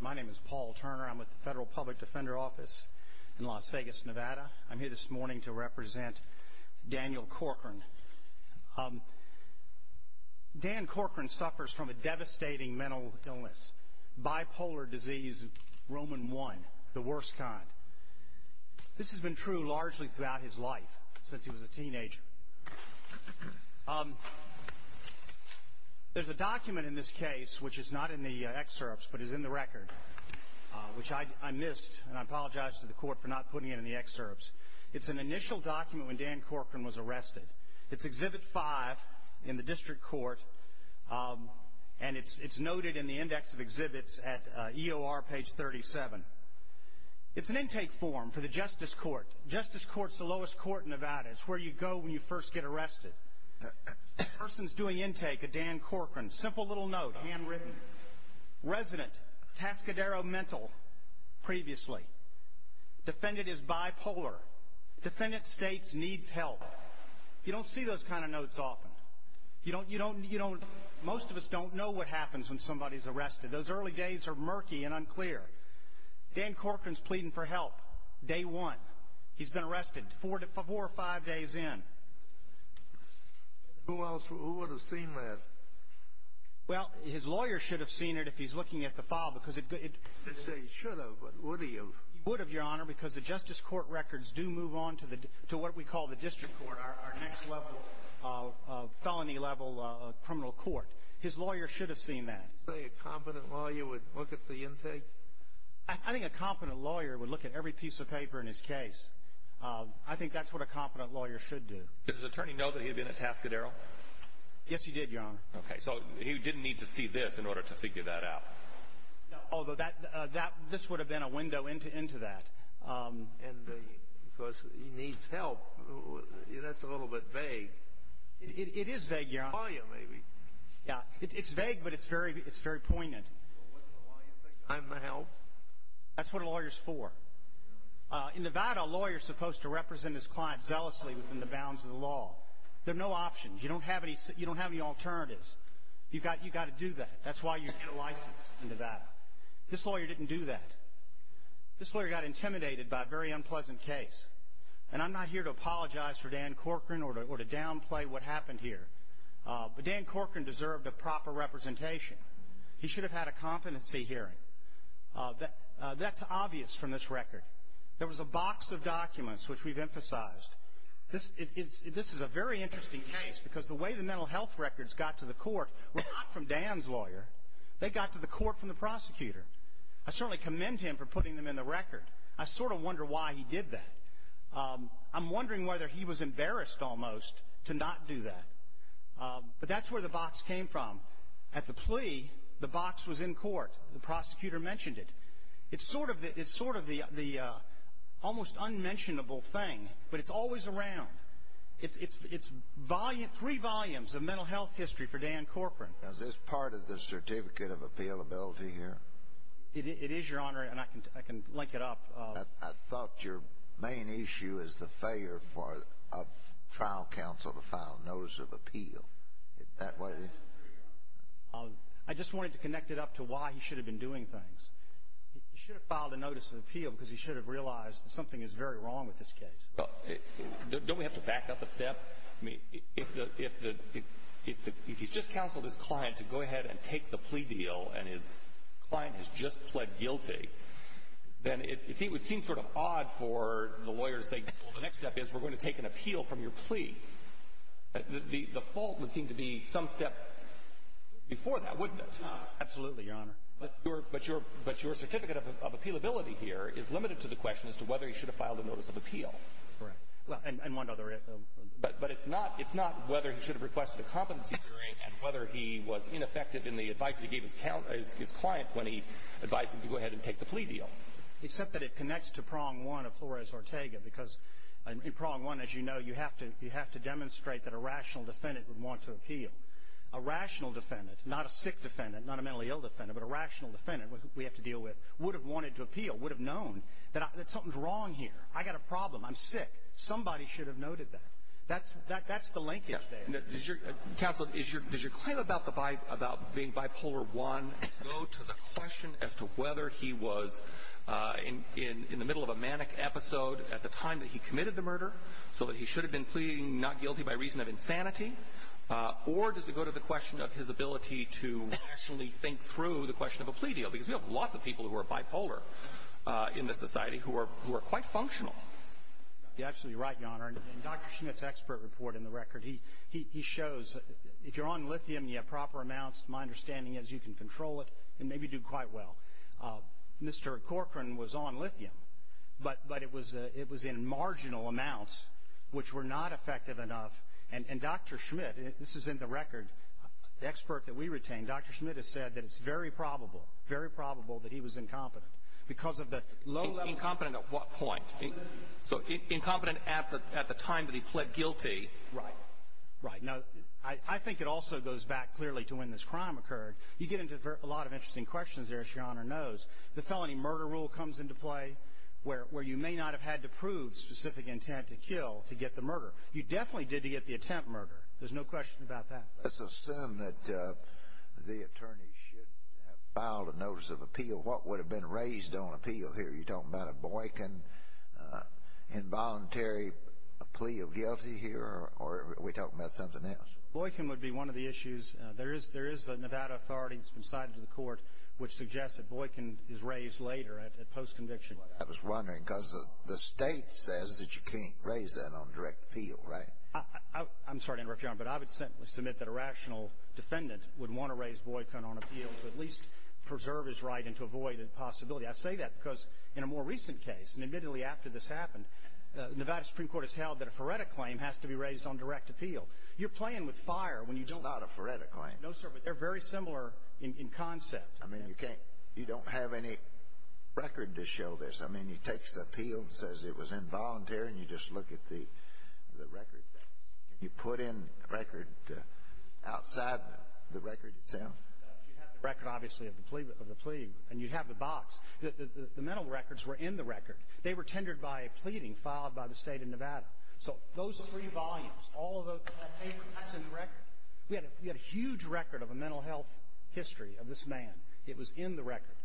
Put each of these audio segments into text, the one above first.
My name is Paul Turner. I'm with the Federal Public Defender Office in Las Vegas, Nevada. I'm here this morning to represent Daniel Corcoran. Dan Corcoran suffers from a devastating mental illness, bipolar disease, Roman I, the worst kind. This has been true largely throughout his life, since he was a teenager. There's a document in this case, which is not in the excerpts, but is in the record, which I missed, and I apologize to the Court for not putting it in the excerpts. It's an initial document when Dan Corcoran was arrested. It's Exhibit 5 in the District Court, and it's noted in the Index of Exhibits at EOR, page 37. It's an intake form for the Justice Court. Justice Court's the lowest court in Nevada. It's where you go when you first get arrested. The person's doing intake of Dan Corcoran. Simple little note, handwritten. Resident, Tascadero Mental, previously. Defendant is bipolar. Defendant states needs help. You don't see those kind of notes often. Most of us don't know what happens when somebody's arrested. Those early days are murky and unclear. Dan Corcoran's pleading for help, day one. He's been arrested four or five days in. Who else would have seen that? Well, his lawyer should have seen it if he's looking at the file. He should have, but would he have? He would have, Your Honor, because the Justice Court records do move on to what we call the District Court, our next level of felony level criminal court. His lawyer should have seen that. Did you say a competent lawyer would look at the intake? I think a competent lawyer would look at every piece of paper in his case. I think that's what a competent lawyer should do. Does his attorney know that he had been at Tascadero? Yes, he did, Your Honor. Okay, so he didn't need to see this in order to figure that out. No, although this would have been a window into that. And because he needs help, that's a little bit vague. It is vague, Your Honor. His lawyer, maybe. Yeah, it's vague, but it's very poignant. I'm going to help. That's what a lawyer is for. In Nevada, a lawyer is supposed to represent his client zealously within the bounds of the law. There are no options. You don't have any alternatives. You've got to do that. That's why you get a license in Nevada. This lawyer didn't do that. This lawyer got intimidated by a very unpleasant case. And I'm not here to apologize for Dan Corcoran or to downplay what happened here. But Dan Corcoran deserved a proper representation. He should have had a competency hearing. That's obvious from this record. There was a box of documents which we've emphasized. This is a very interesting case because the way the mental health records got to the court were not from Dan's lawyer. They got to the court from the prosecutor. I certainly commend him for putting them in the record. I sort of wonder why he did that. I'm wondering whether he was embarrassed almost to not do that. But that's where the box came from. At the plea, the box was in court. The prosecutor mentioned it. It's sort of the almost unmentionable thing, but it's always around. It's three volumes of mental health history for Dan Corcoran. Is this part of the certificate of appealability here? It is, Your Honor, and I can link it up. I thought your main issue is the failure for a trial counsel to file a notice of appeal. Is that what it is? I just wanted to connect it up to why he should have been doing things. He should have filed a notice of appeal because he should have realized that something is very wrong with this case. If he's just counseled his client to go ahead and take the plea deal and his client has just pled guilty, then it would seem sort of odd for the lawyer to say, well, the next step is we're going to take an appeal from your plea. The fault would seem to be some step before that, wouldn't it? Absolutely, Your Honor. But your certificate of appealability here is limited to the question as to whether he should have filed a notice of appeal. Correct. But it's not whether he should have requested a competency hearing and whether he was ineffective in the advice he gave his client when he advised him to go ahead and take the plea deal. Except that it connects to prong one of Flores-Ortega because in prong one, as you know, you have to demonstrate that a rational defendant would want to appeal. A rational defendant, not a sick defendant, not a mentally ill defendant, but a rational defendant, we have to deal with, would have wanted to appeal, would have known that something's wrong here. I've got a problem. I'm sick. Somebody should have noted that. That's the linkage there. Counsel, does your claim about being bipolar one go to the question as to whether he was in the middle of a manic episode at the time that he committed the murder so that he should have been pleading not guilty by reason of insanity? Or does it go to the question of his ability to rationally think through the question of a plea deal? Because we have lots of people who are bipolar in this society who are quite functional. You're absolutely right, Your Honor. In Dr. Schmidt's expert report in the record, he shows if you're on lithium and you have proper amounts, my understanding is you can control it and maybe do quite well. Mr. Corcoran was on lithium, but it was in marginal amounts, which were not effective enough. And Dr. Schmidt, this is in the record, the expert that we retain, Dr. Schmidt has said that it's very probable, very probable that he was incompetent because of the low level. Incompetent at what point? Incompetent at the time that he pled guilty. Right. Right. Now, I think it also goes back clearly to when this crime occurred. You get into a lot of interesting questions there, as Your Honor knows. The felony murder rule comes into play where you may not have had to prove specific intent to kill to get the murder. You definitely did to get the attempt murder. There's no question about that. Let's assume that the attorney should have filed a notice of appeal. What would have been raised on appeal here? Are you talking about a Boykin involuntary plea of guilty here, or are we talking about something else? Boykin would be one of the issues. There is a Nevada authority that's been cited to the court which suggests that Boykin is raised later at post-conviction. I was wondering, because the State says that you can't raise that on direct appeal, right? I'm sorry to interrupt, Your Honor, but I would simply submit that a rational defendant would want to raise Boykin on appeal to at least preserve his right and to avoid a possibility. I say that because in a more recent case, and admittedly after this happened, the Nevada Supreme Court has held that a Faretta claim has to be raised on direct appeal. You're playing with fire when you don't. It's not a Faretta claim. No, sir, but they're very similar in concept. I mean, you don't have any record to show this. I mean, he takes the appeal and says it was involuntary, and you just look at the record. Can you put in a record outside the record itself? You have the record, obviously, of the plea, and you have the box. The mental records were in the record. They were tendered by a pleading filed by the State of Nevada. So those three volumes, all of that paper, that's in the record. We had a huge record of a mental health history of this man. It was in the record.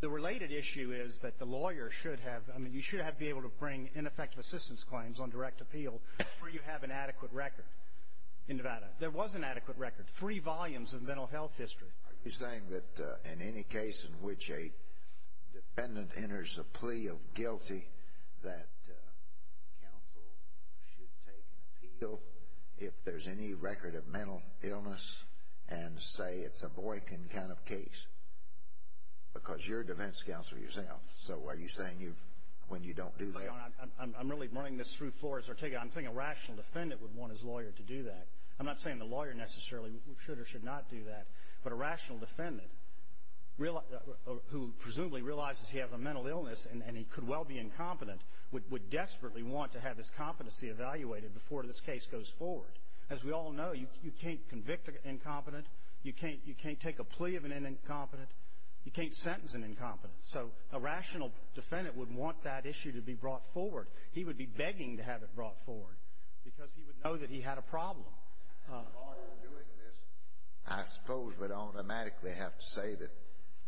The related issue is that the lawyer should have, I mean, you should be able to bring ineffective assistance claims on direct appeal before you have an adequate record in Nevada. There was an adequate record, three volumes of mental health history. Are you saying that in any case in which a dependent enters a plea of guilty, that counsel should take an appeal if there's any record of mental illness and say it's a Boykin kind of case? Because you're a defense counselor yourself, so are you saying when you don't do that? I'm really running this through Flores. I'm saying a rational defendant would want his lawyer to do that. I'm not saying the lawyer necessarily should or should not do that, but a rational defendant who presumably realizes he has a mental illness and he could well be incompetent would desperately want to have his competency evaluated before this case goes forward. As we all know, you can't convict an incompetent. You can't take a plea of an incompetent. You can't sentence an incompetent. So a rational defendant would want that issue to be brought forward. He would be begging to have it brought forward because he would know that he had a problem. The lawyer doing this, I suppose, would automatically have to say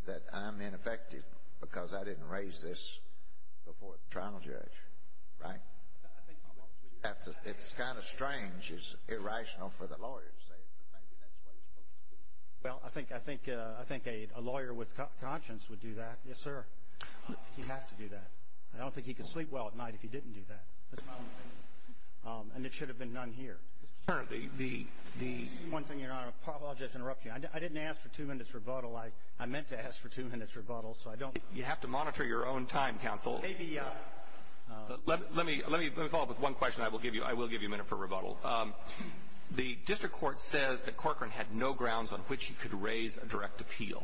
that I'm ineffective because I didn't raise this before the trial judge, right? It's kind of strange. It's irrational for the lawyer to say it, but maybe that's what he's supposed to do. Well, I think a lawyer with conscience would do that. Yes, sir. He'd have to do that. I don't think he could sleep well at night if he didn't do that. And it should have been done here. One thing, Your Honor, I apologize to interrupt you. I didn't ask for two minutes rebuttal. You have to monitor your own time, counsel. Let me follow up with one question. I will give you a minute for rebuttal. The district court says that Corcoran had no grounds on which he could raise a direct appeal.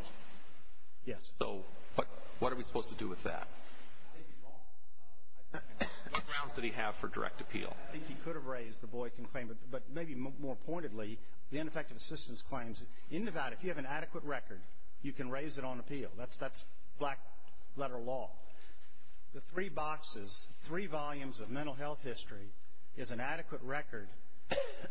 Yes. So what are we supposed to do with that? What grounds did he have for direct appeal? I think he could have raised, the boy can claim, but maybe more pointedly, the ineffective assistance claims. In Nevada, if you have an adequate record, you can raise it on appeal. That's black letter law. The three boxes, three volumes of mental health history is an adequate record.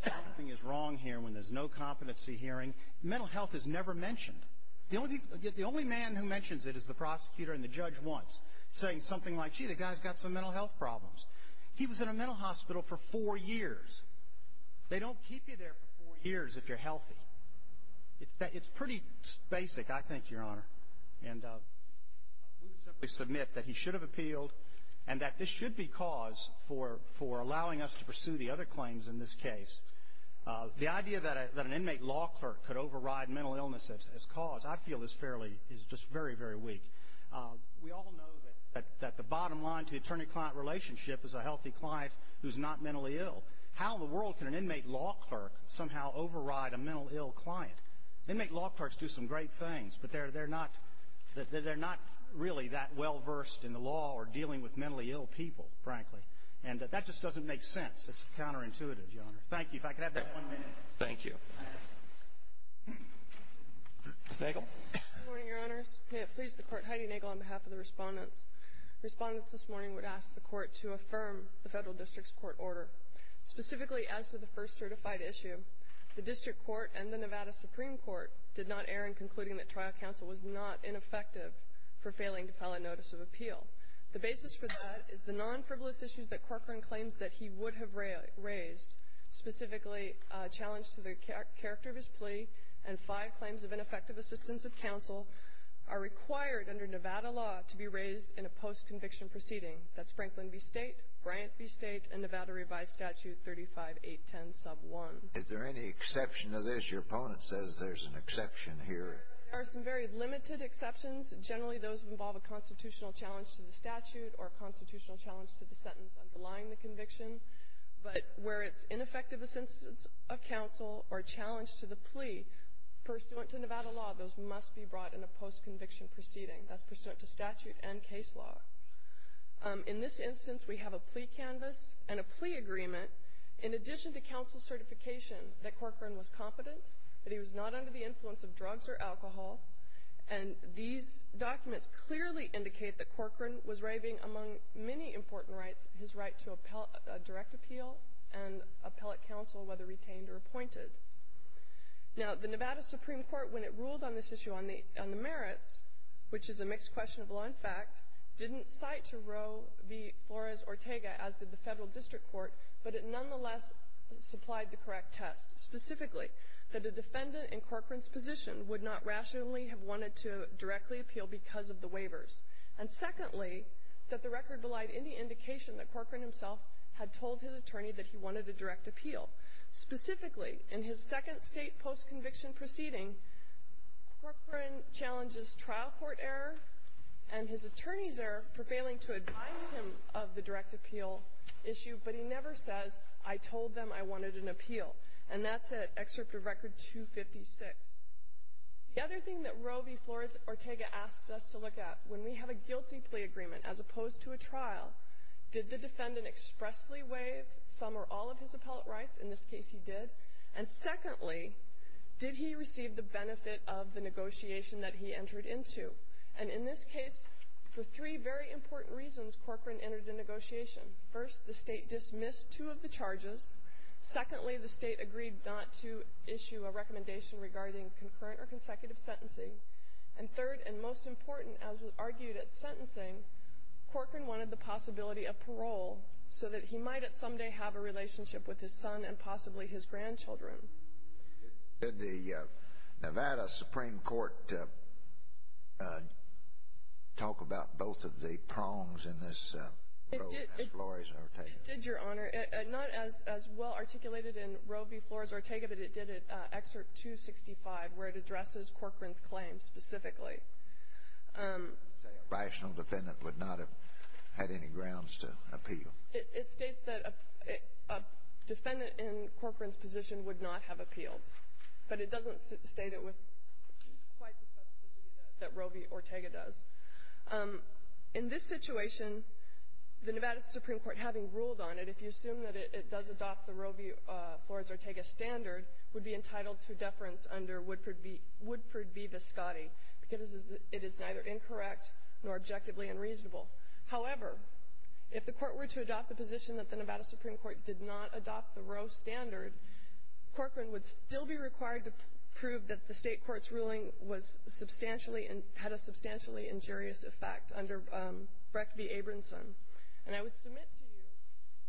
Something is wrong here when there's no competency hearing. Mental health is never mentioned. The only man who mentions it is the prosecutor and the judge once, saying something like, gee, the guy's got some mental health problems. He was in a mental hospital for four years. They don't keep you there for four years if you're healthy. It's pretty basic, I think, Your Honor. And we would simply submit that he should have appealed and that this should be cause for allowing us to pursue the other claims in this case. The idea that an inmate law clerk could override mental illness as cause, I feel, is fairly, is just very, very weak. We all know that the bottom line to the attorney-client relationship is a healthy client who's not mentally ill. How in the world can an inmate law clerk somehow override a mental ill client? They make law clerks do some great things, but they're not really that well-versed in the law or dealing with mentally ill people, frankly. And that just doesn't make sense. It's counterintuitive, Your Honor. Thank you. If I could have that one minute. Thank you. Ms. Nagel. Good morning, Your Honors. May it please the Court, Heidi Nagel, on behalf of the respondents. Respondents this morning would ask the Court to affirm the Federal District's court order. Specifically, as to the first certified issue, the District Court and the Nevada Supreme Court did not err in concluding that trial counsel was not ineffective for failing to file a notice of appeal. The basis for that is the non-frivolous issues that Corcoran claims that he would have raised, specifically a challenge to the character of his plea and five claims of ineffective assistance of counsel, are required under Nevada law to be raised in a post-conviction proceeding. That's Franklin v. State, Bryant v. State, and Nevada revised statute 35810 sub 1. Is there any exception to this? Your opponent says there's an exception here. There are some very limited exceptions. Generally, those involve a constitutional challenge to the statute or a constitutional challenge to the sentence underlying the conviction. But where it's ineffective assistance of counsel or a challenge to the plea, pursuant to Nevada law, those must be brought in a post-conviction proceeding. That's pursuant to statute and case law. In this instance, we have a plea canvas and a plea agreement, in addition to counsel certification that Corcoran was competent, that he was not under the influence of drugs or alcohol, and these documents clearly indicate that Corcoran was raving among many important rights, his right to direct appeal and appellate counsel, whether retained or appointed. Now, the Nevada Supreme Court, when it ruled on this issue on the merits, which is a mixed question of law and fact, didn't cite to Roe v. Flores-Ortega, as did the Federal District Court, but it nonetheless supplied the correct test, specifically that a defendant in Corcoran's position would not rationally have wanted to directly appeal because of the waivers, and secondly, that the record belied any indication that Corcoran himself had told his attorney that he wanted a direct appeal, specifically in his second state post-conviction proceeding, Corcoran challenges trial court error, and his attorneys are prevailing to advise him of the direct appeal issue, but he never says, I told them I wanted an appeal, and that's at Excerpt of Record 256. The other thing that Roe v. Flores-Ortega asks us to look at, when we have a guilty plea agreement as opposed to a trial, did the defendant expressly waive some or all of his appellate rights in this case he did, and secondly, did he receive the benefit of the negotiation that he entered into, and in this case, for three very important reasons, Corcoran entered a negotiation. First, the state dismissed two of the charges. Secondly, the state agreed not to issue a recommendation regarding concurrent or consecutive sentencing, and third and most important, as was argued at sentencing, Corcoran wanted the possibility of parole so that he might someday have a relationship with his son and possibly his grandchildren. Did the Nevada Supreme Court talk about both of the prongs in this Roe v. Flores-Ortega? It did, Your Honor. Not as well articulated in Roe v. Flores-Ortega, but it did at Excerpt 265, where it addresses Corcoran's claim specifically. A rational defendant would not have had any grounds to appeal. It states that a defendant in Corcoran's position would not have appealed, but it doesn't state it with quite the specificity that Roe v. Ortega does. In this situation, the Nevada Supreme Court, having ruled on it, if you assume that it does adopt the Roe v. Flores-Ortega standard, would be entitled to deference under Woodford v. Viscotti because it is neither incorrect nor objectively unreasonable. However, if the court were to adopt the position that the Nevada Supreme Court did not adopt the Roe standard, Corcoran would still be required to prove that the state court's ruling had a substantially injurious effect under Brecht v. Abramson. And I would submit to you,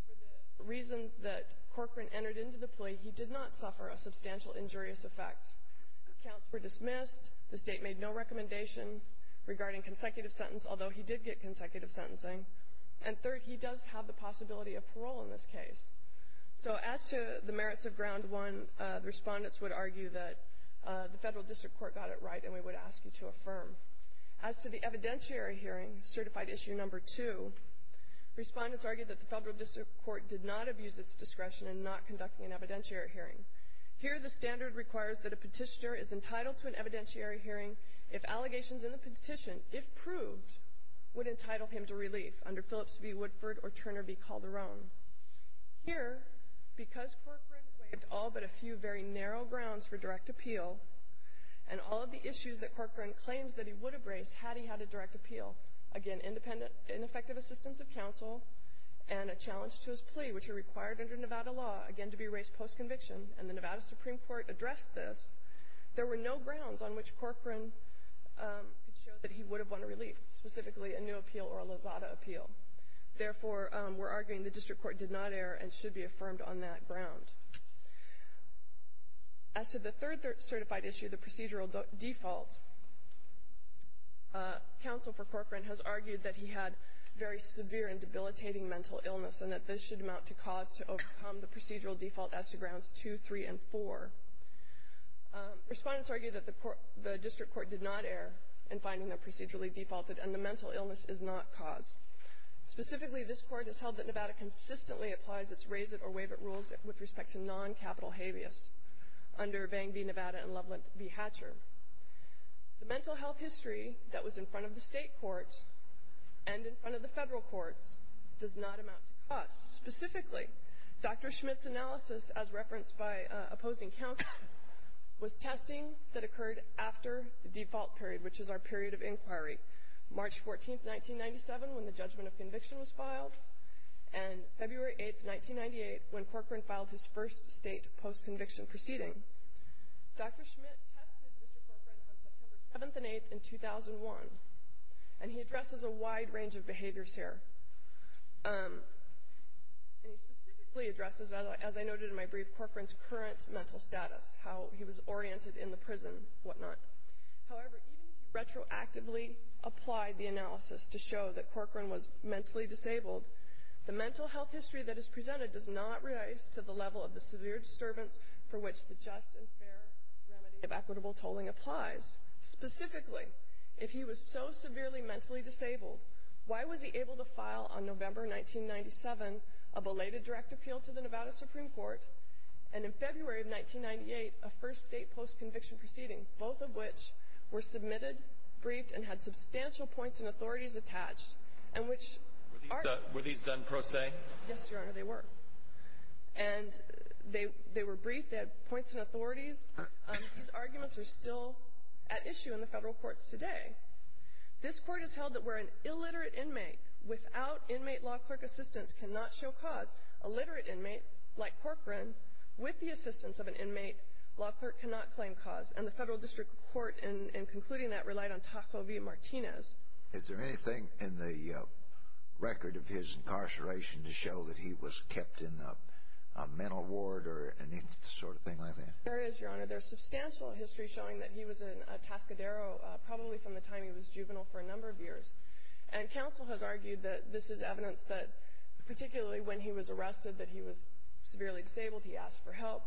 for the reasons that Corcoran entered into the plea, he did not suffer a substantial injurious effect. Accounts were dismissed. The state made no recommendation regarding consecutive sentence, although he did get consecutive sentencing. And third, he does have the possibility of parole in this case. So as to the merits of Ground 1, the respondents would argue that the Federal District Court got it right, and we would ask you to affirm. As to the evidentiary hearing, Certified Issue No. 2, respondents argue that the Federal District Court did not abuse its discretion in not conducting an evidentiary hearing. Here, the standard requires that a petitioner is entitled to an evidentiary hearing if allegations in the petition, if proved, would entitle him to relief under Phillips v. Woodford or Turner v. Calderon. Here, because Corcoran waived all but a few very narrow grounds for direct appeal and all of the issues that Corcoran claims that he would have raised had he had a direct appeal, again, ineffective assistance of counsel and a challenge to his plea, which are required under Nevada law, again, to be raised post-conviction, and the Nevada Supreme Court addressed this, there were no grounds on which Corcoran could show that he would have won relief, specifically a new appeal or a Lozada appeal. Therefore, we're arguing the District Court did not err and should be affirmed on that ground. As to the third certified issue, the procedural default, counsel for Corcoran has argued that he had very severe and debilitating mental illness and that this should amount to cause to overcome the procedural default as to Grounds 2, 3, and 4. Respondents argue that the District Court did not err in finding them procedurally defaulted and the mental illness is not cause. Specifically, this Court has held that Nevada consistently applies its raise it or waive it rules with respect to non-capital habeas under Bang v. Nevada and Loveland v. Hatcher. The mental health history that was in front of the state courts and in front of the federal courts does not amount to cause. Specifically, Dr. Schmidt's analysis, as referenced by opposing counsel, was testing that occurred after the default period, which is our period of inquiry, March 14th, 1997, when the judgment of conviction was filed, and February 8th, 1998, when Corcoran filed his first state post-conviction proceeding. Dr. Schmidt tested Mr. Corcoran on September 7th and 8th in 2001, and he addresses a wide range of behaviors here. And he specifically addresses, as I noted in my brief, Corcoran's current mental status, how he was oriented in the prison and whatnot. However, even if you retroactively apply the analysis to show that Corcoran was mentally disabled, the mental health history that is presented does not rise to the level of the severe disturbance for which the just and fair remedy of equitable tolling applies. Specifically, if he was so severely mentally disabled, why was he able to file on November 1997 a belated direct appeal to the Nevada Supreme Court, and in February of 1998 a first state post-conviction proceeding, both of which were submitted, briefed, and had substantial points and authorities attached, and which are— Were these done pro se? Yes, Your Honor, they were. And they were briefed. They had points and authorities. These arguments are still at issue in the federal courts today. This court has held that where an illiterate inmate without inmate law clerk assistance cannot show cause, a literate inmate like Corcoran, with the assistance of an inmate law clerk, cannot claim cause. And the federal district court, in concluding that, relied on Tafel v. Martinez. Is there anything in the record of his incarceration to show that he was kept in a mental ward or any sort of thing like that? There is, Your Honor. There's substantial history showing that he was in a Tascadero probably from the time he was juvenile for a number of years. And counsel has argued that this is evidence that, particularly when he was arrested, that he was severely disabled, he asked for help.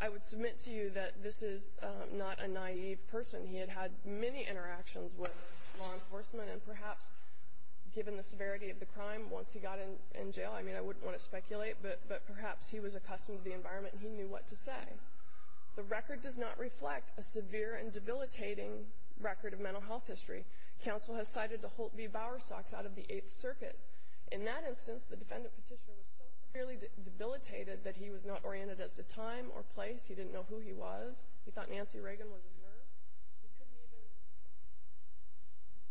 I would submit to you that this is not a naive person. He had had many interactions with law enforcement, and perhaps given the severity of the crime, once he got in jail— I mean, I wouldn't want to speculate, but perhaps he was accustomed to the environment and he knew what to say. The record does not reflect a severe and debilitating record of mental health history. Counsel has cited the Holt v. Bowerstocks out of the Eighth Circuit. In that instance, the defendant petitioner was so severely debilitated that he was not oriented as to time or place. He didn't know who he was. He thought Nancy Reagan was his nurse. He couldn't even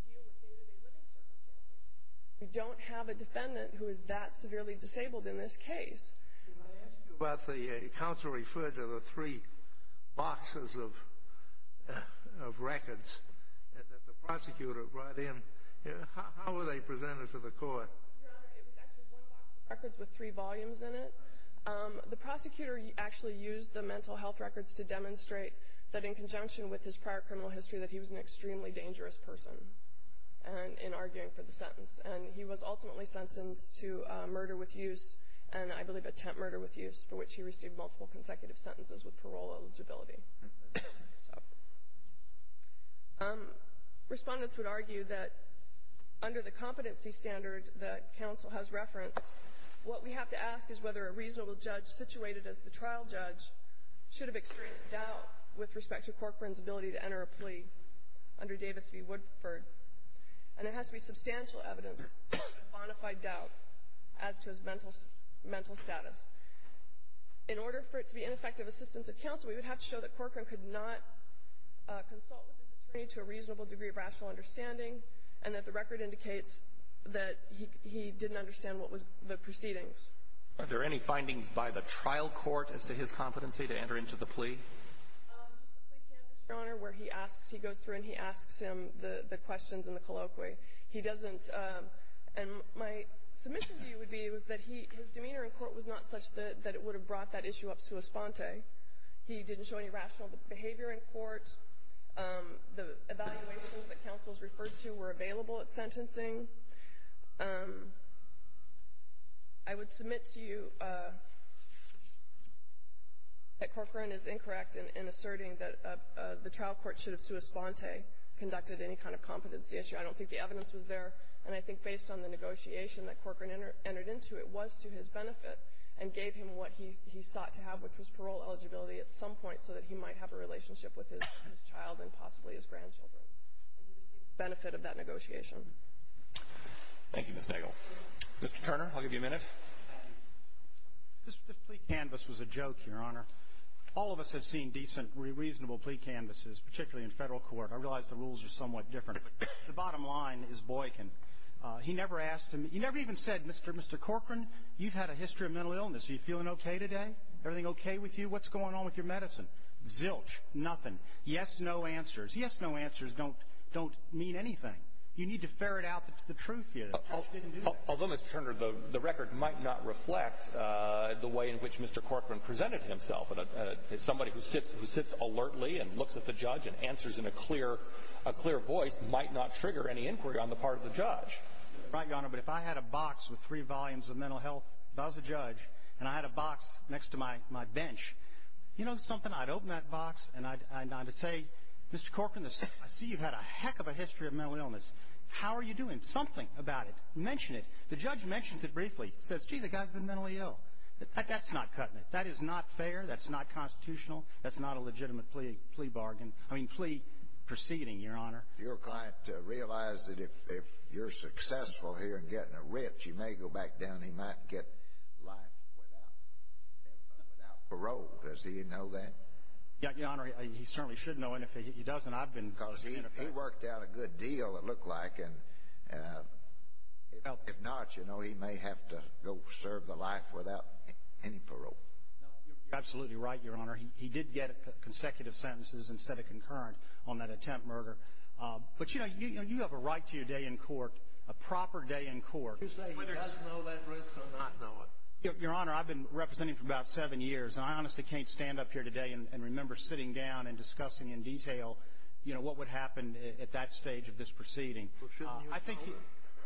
deal with day-to-day living circumstances. We don't have a defendant who is that severely disabled in this case. May I ask you about the—counsel referred to the three boxes of records that the prosecutor brought in. How were they presented to the court? Your Honor, it was actually one box of records with three volumes in it. The prosecutor actually used the mental health records to demonstrate that in conjunction with his prior criminal history, that he was an extremely dangerous person in arguing for the sentence. And he was ultimately sentenced to murder with use and, I believe, attempt murder with use, for which he received multiple consecutive sentences with parole eligibility. Respondents would argue that under the competency standard that counsel has referenced, what we have to ask is whether a reasonable judge situated as the trial judge should have experienced doubt with respect to Corcoran's ability to enter a plea under Davis v. Woodford. And there has to be substantial evidence of bona fide doubt as to his mental status. In order for it to be ineffective assistance of counsel, we would have to show that Corcoran could not consult with his attorney to a reasonable degree of rational understanding and that the record indicates that he didn't understand what was the proceedings. Are there any findings by the trial court as to his competency to enter into the plea? Just the plea can, Mr. Honor, where he asks, he goes through and he asks him the questions in the colloquy. He doesn't, and my submission to you would be, was that his demeanor in court was not such that it would have brought that issue up to a sponte. He didn't show any rational behavior in court. I would submit to you that Corcoran is incorrect in asserting that the trial court should have, sua sponte, conducted any kind of competency issue. I don't think the evidence was there. And I think based on the negotiation that Corcoran entered into, it was to his benefit and gave him what he sought to have, which was parole eligibility, at some point so that he might have a relationship with his child and possibly his grandchildren. And he received the benefit of that negotiation. Thank you, Ms. Nagel. Mr. Turner, I'll give you a minute. The plea canvass was a joke, Your Honor. All of us have seen decent, reasonable plea canvasses, particularly in federal court. I realize the rules are somewhat different, but the bottom line is Boykin. He never asked him, he never even said, Mr. Corcoran, you've had a history of mental illness. Are you feeling okay today? Everything okay with you? What's going on with your medicine? Zilch. Nothing. Yes, no answers. Yes, no answers don't mean anything. You need to ferret out the truth here. Although, Mr. Turner, the record might not reflect the way in which Mr. Corcoran presented himself. Somebody who sits alertly and looks at the judge and answers in a clear voice might not trigger any inquiry on the part of the judge. Right, Your Honor. But if I had a box with three volumes of mental health, if I was a judge, and I had a box next to my bench, you know something, I'd open that box and I'd say, Mr. Corcoran, I see you've had a heck of a history of mental illness. How are you doing? Something about it. Mention it. The judge mentions it briefly. Says, gee, the guy's been mentally ill. That's not cutting it. That is not fair. That's not constitutional. That's not a legitimate plea proceeding, Your Honor. Your client realized that if you're successful here in getting a rich, he may go back down and he might get life without parole. Does he know that? Yeah, Your Honor. He certainly should know. And if he doesn't, I've been... Because he worked out a good deal, it looked like. And if not, you know, he may have to go serve the life without any parole. No, you're absolutely right, Your Honor. He did get consecutive sentences instead of concurrent on that attempt murder. But, you know, you have a right to your day in court, a proper day in court. Does he know that risk or not know it? Your Honor, I've been representing him for about seven years, and I honestly can't stand up here today and remember sitting down and discussing in detail, you know, what would happen at that stage of this proceeding. Well, shouldn't you have told him?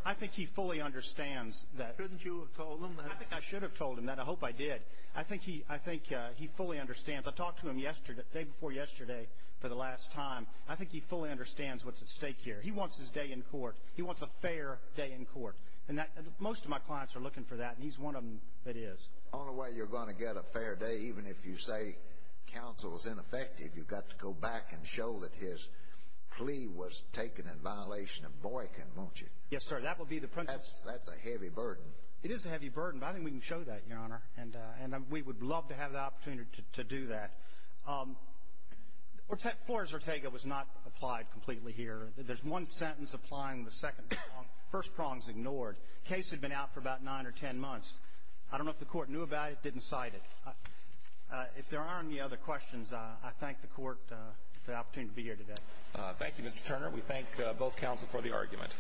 I think he fully understands that... Shouldn't you have told him that? I think I should have told him that. I hope I did. I think he fully understands. I talked to him yesterday, the day before yesterday, for the last time. I think he fully understands what's at stake here. He wants his day in court. He wants a fair day in court. And most of my clients are looking for that, and he's one of them that is. The only way you're going to get a fair day, even if you say counsel is ineffective, you've got to go back and show that his plea was taken in violation of Boykin, won't you? Yes, sir. That will be the principle. That's a heavy burden. It is a heavy burden, but I think we can show that, Your Honor. And we would love to have the opportunity to do that. Flores-Ortega was not applied completely here. There's one sentence applying the second prong. The first prong is ignored. The case had been out for about nine or ten months. I don't know if the Court knew about it or didn't cite it. If there are any other questions, I thank the Court for the opportunity to be here today. Thank you, Mr. Turner. We thank both counsel for the argument.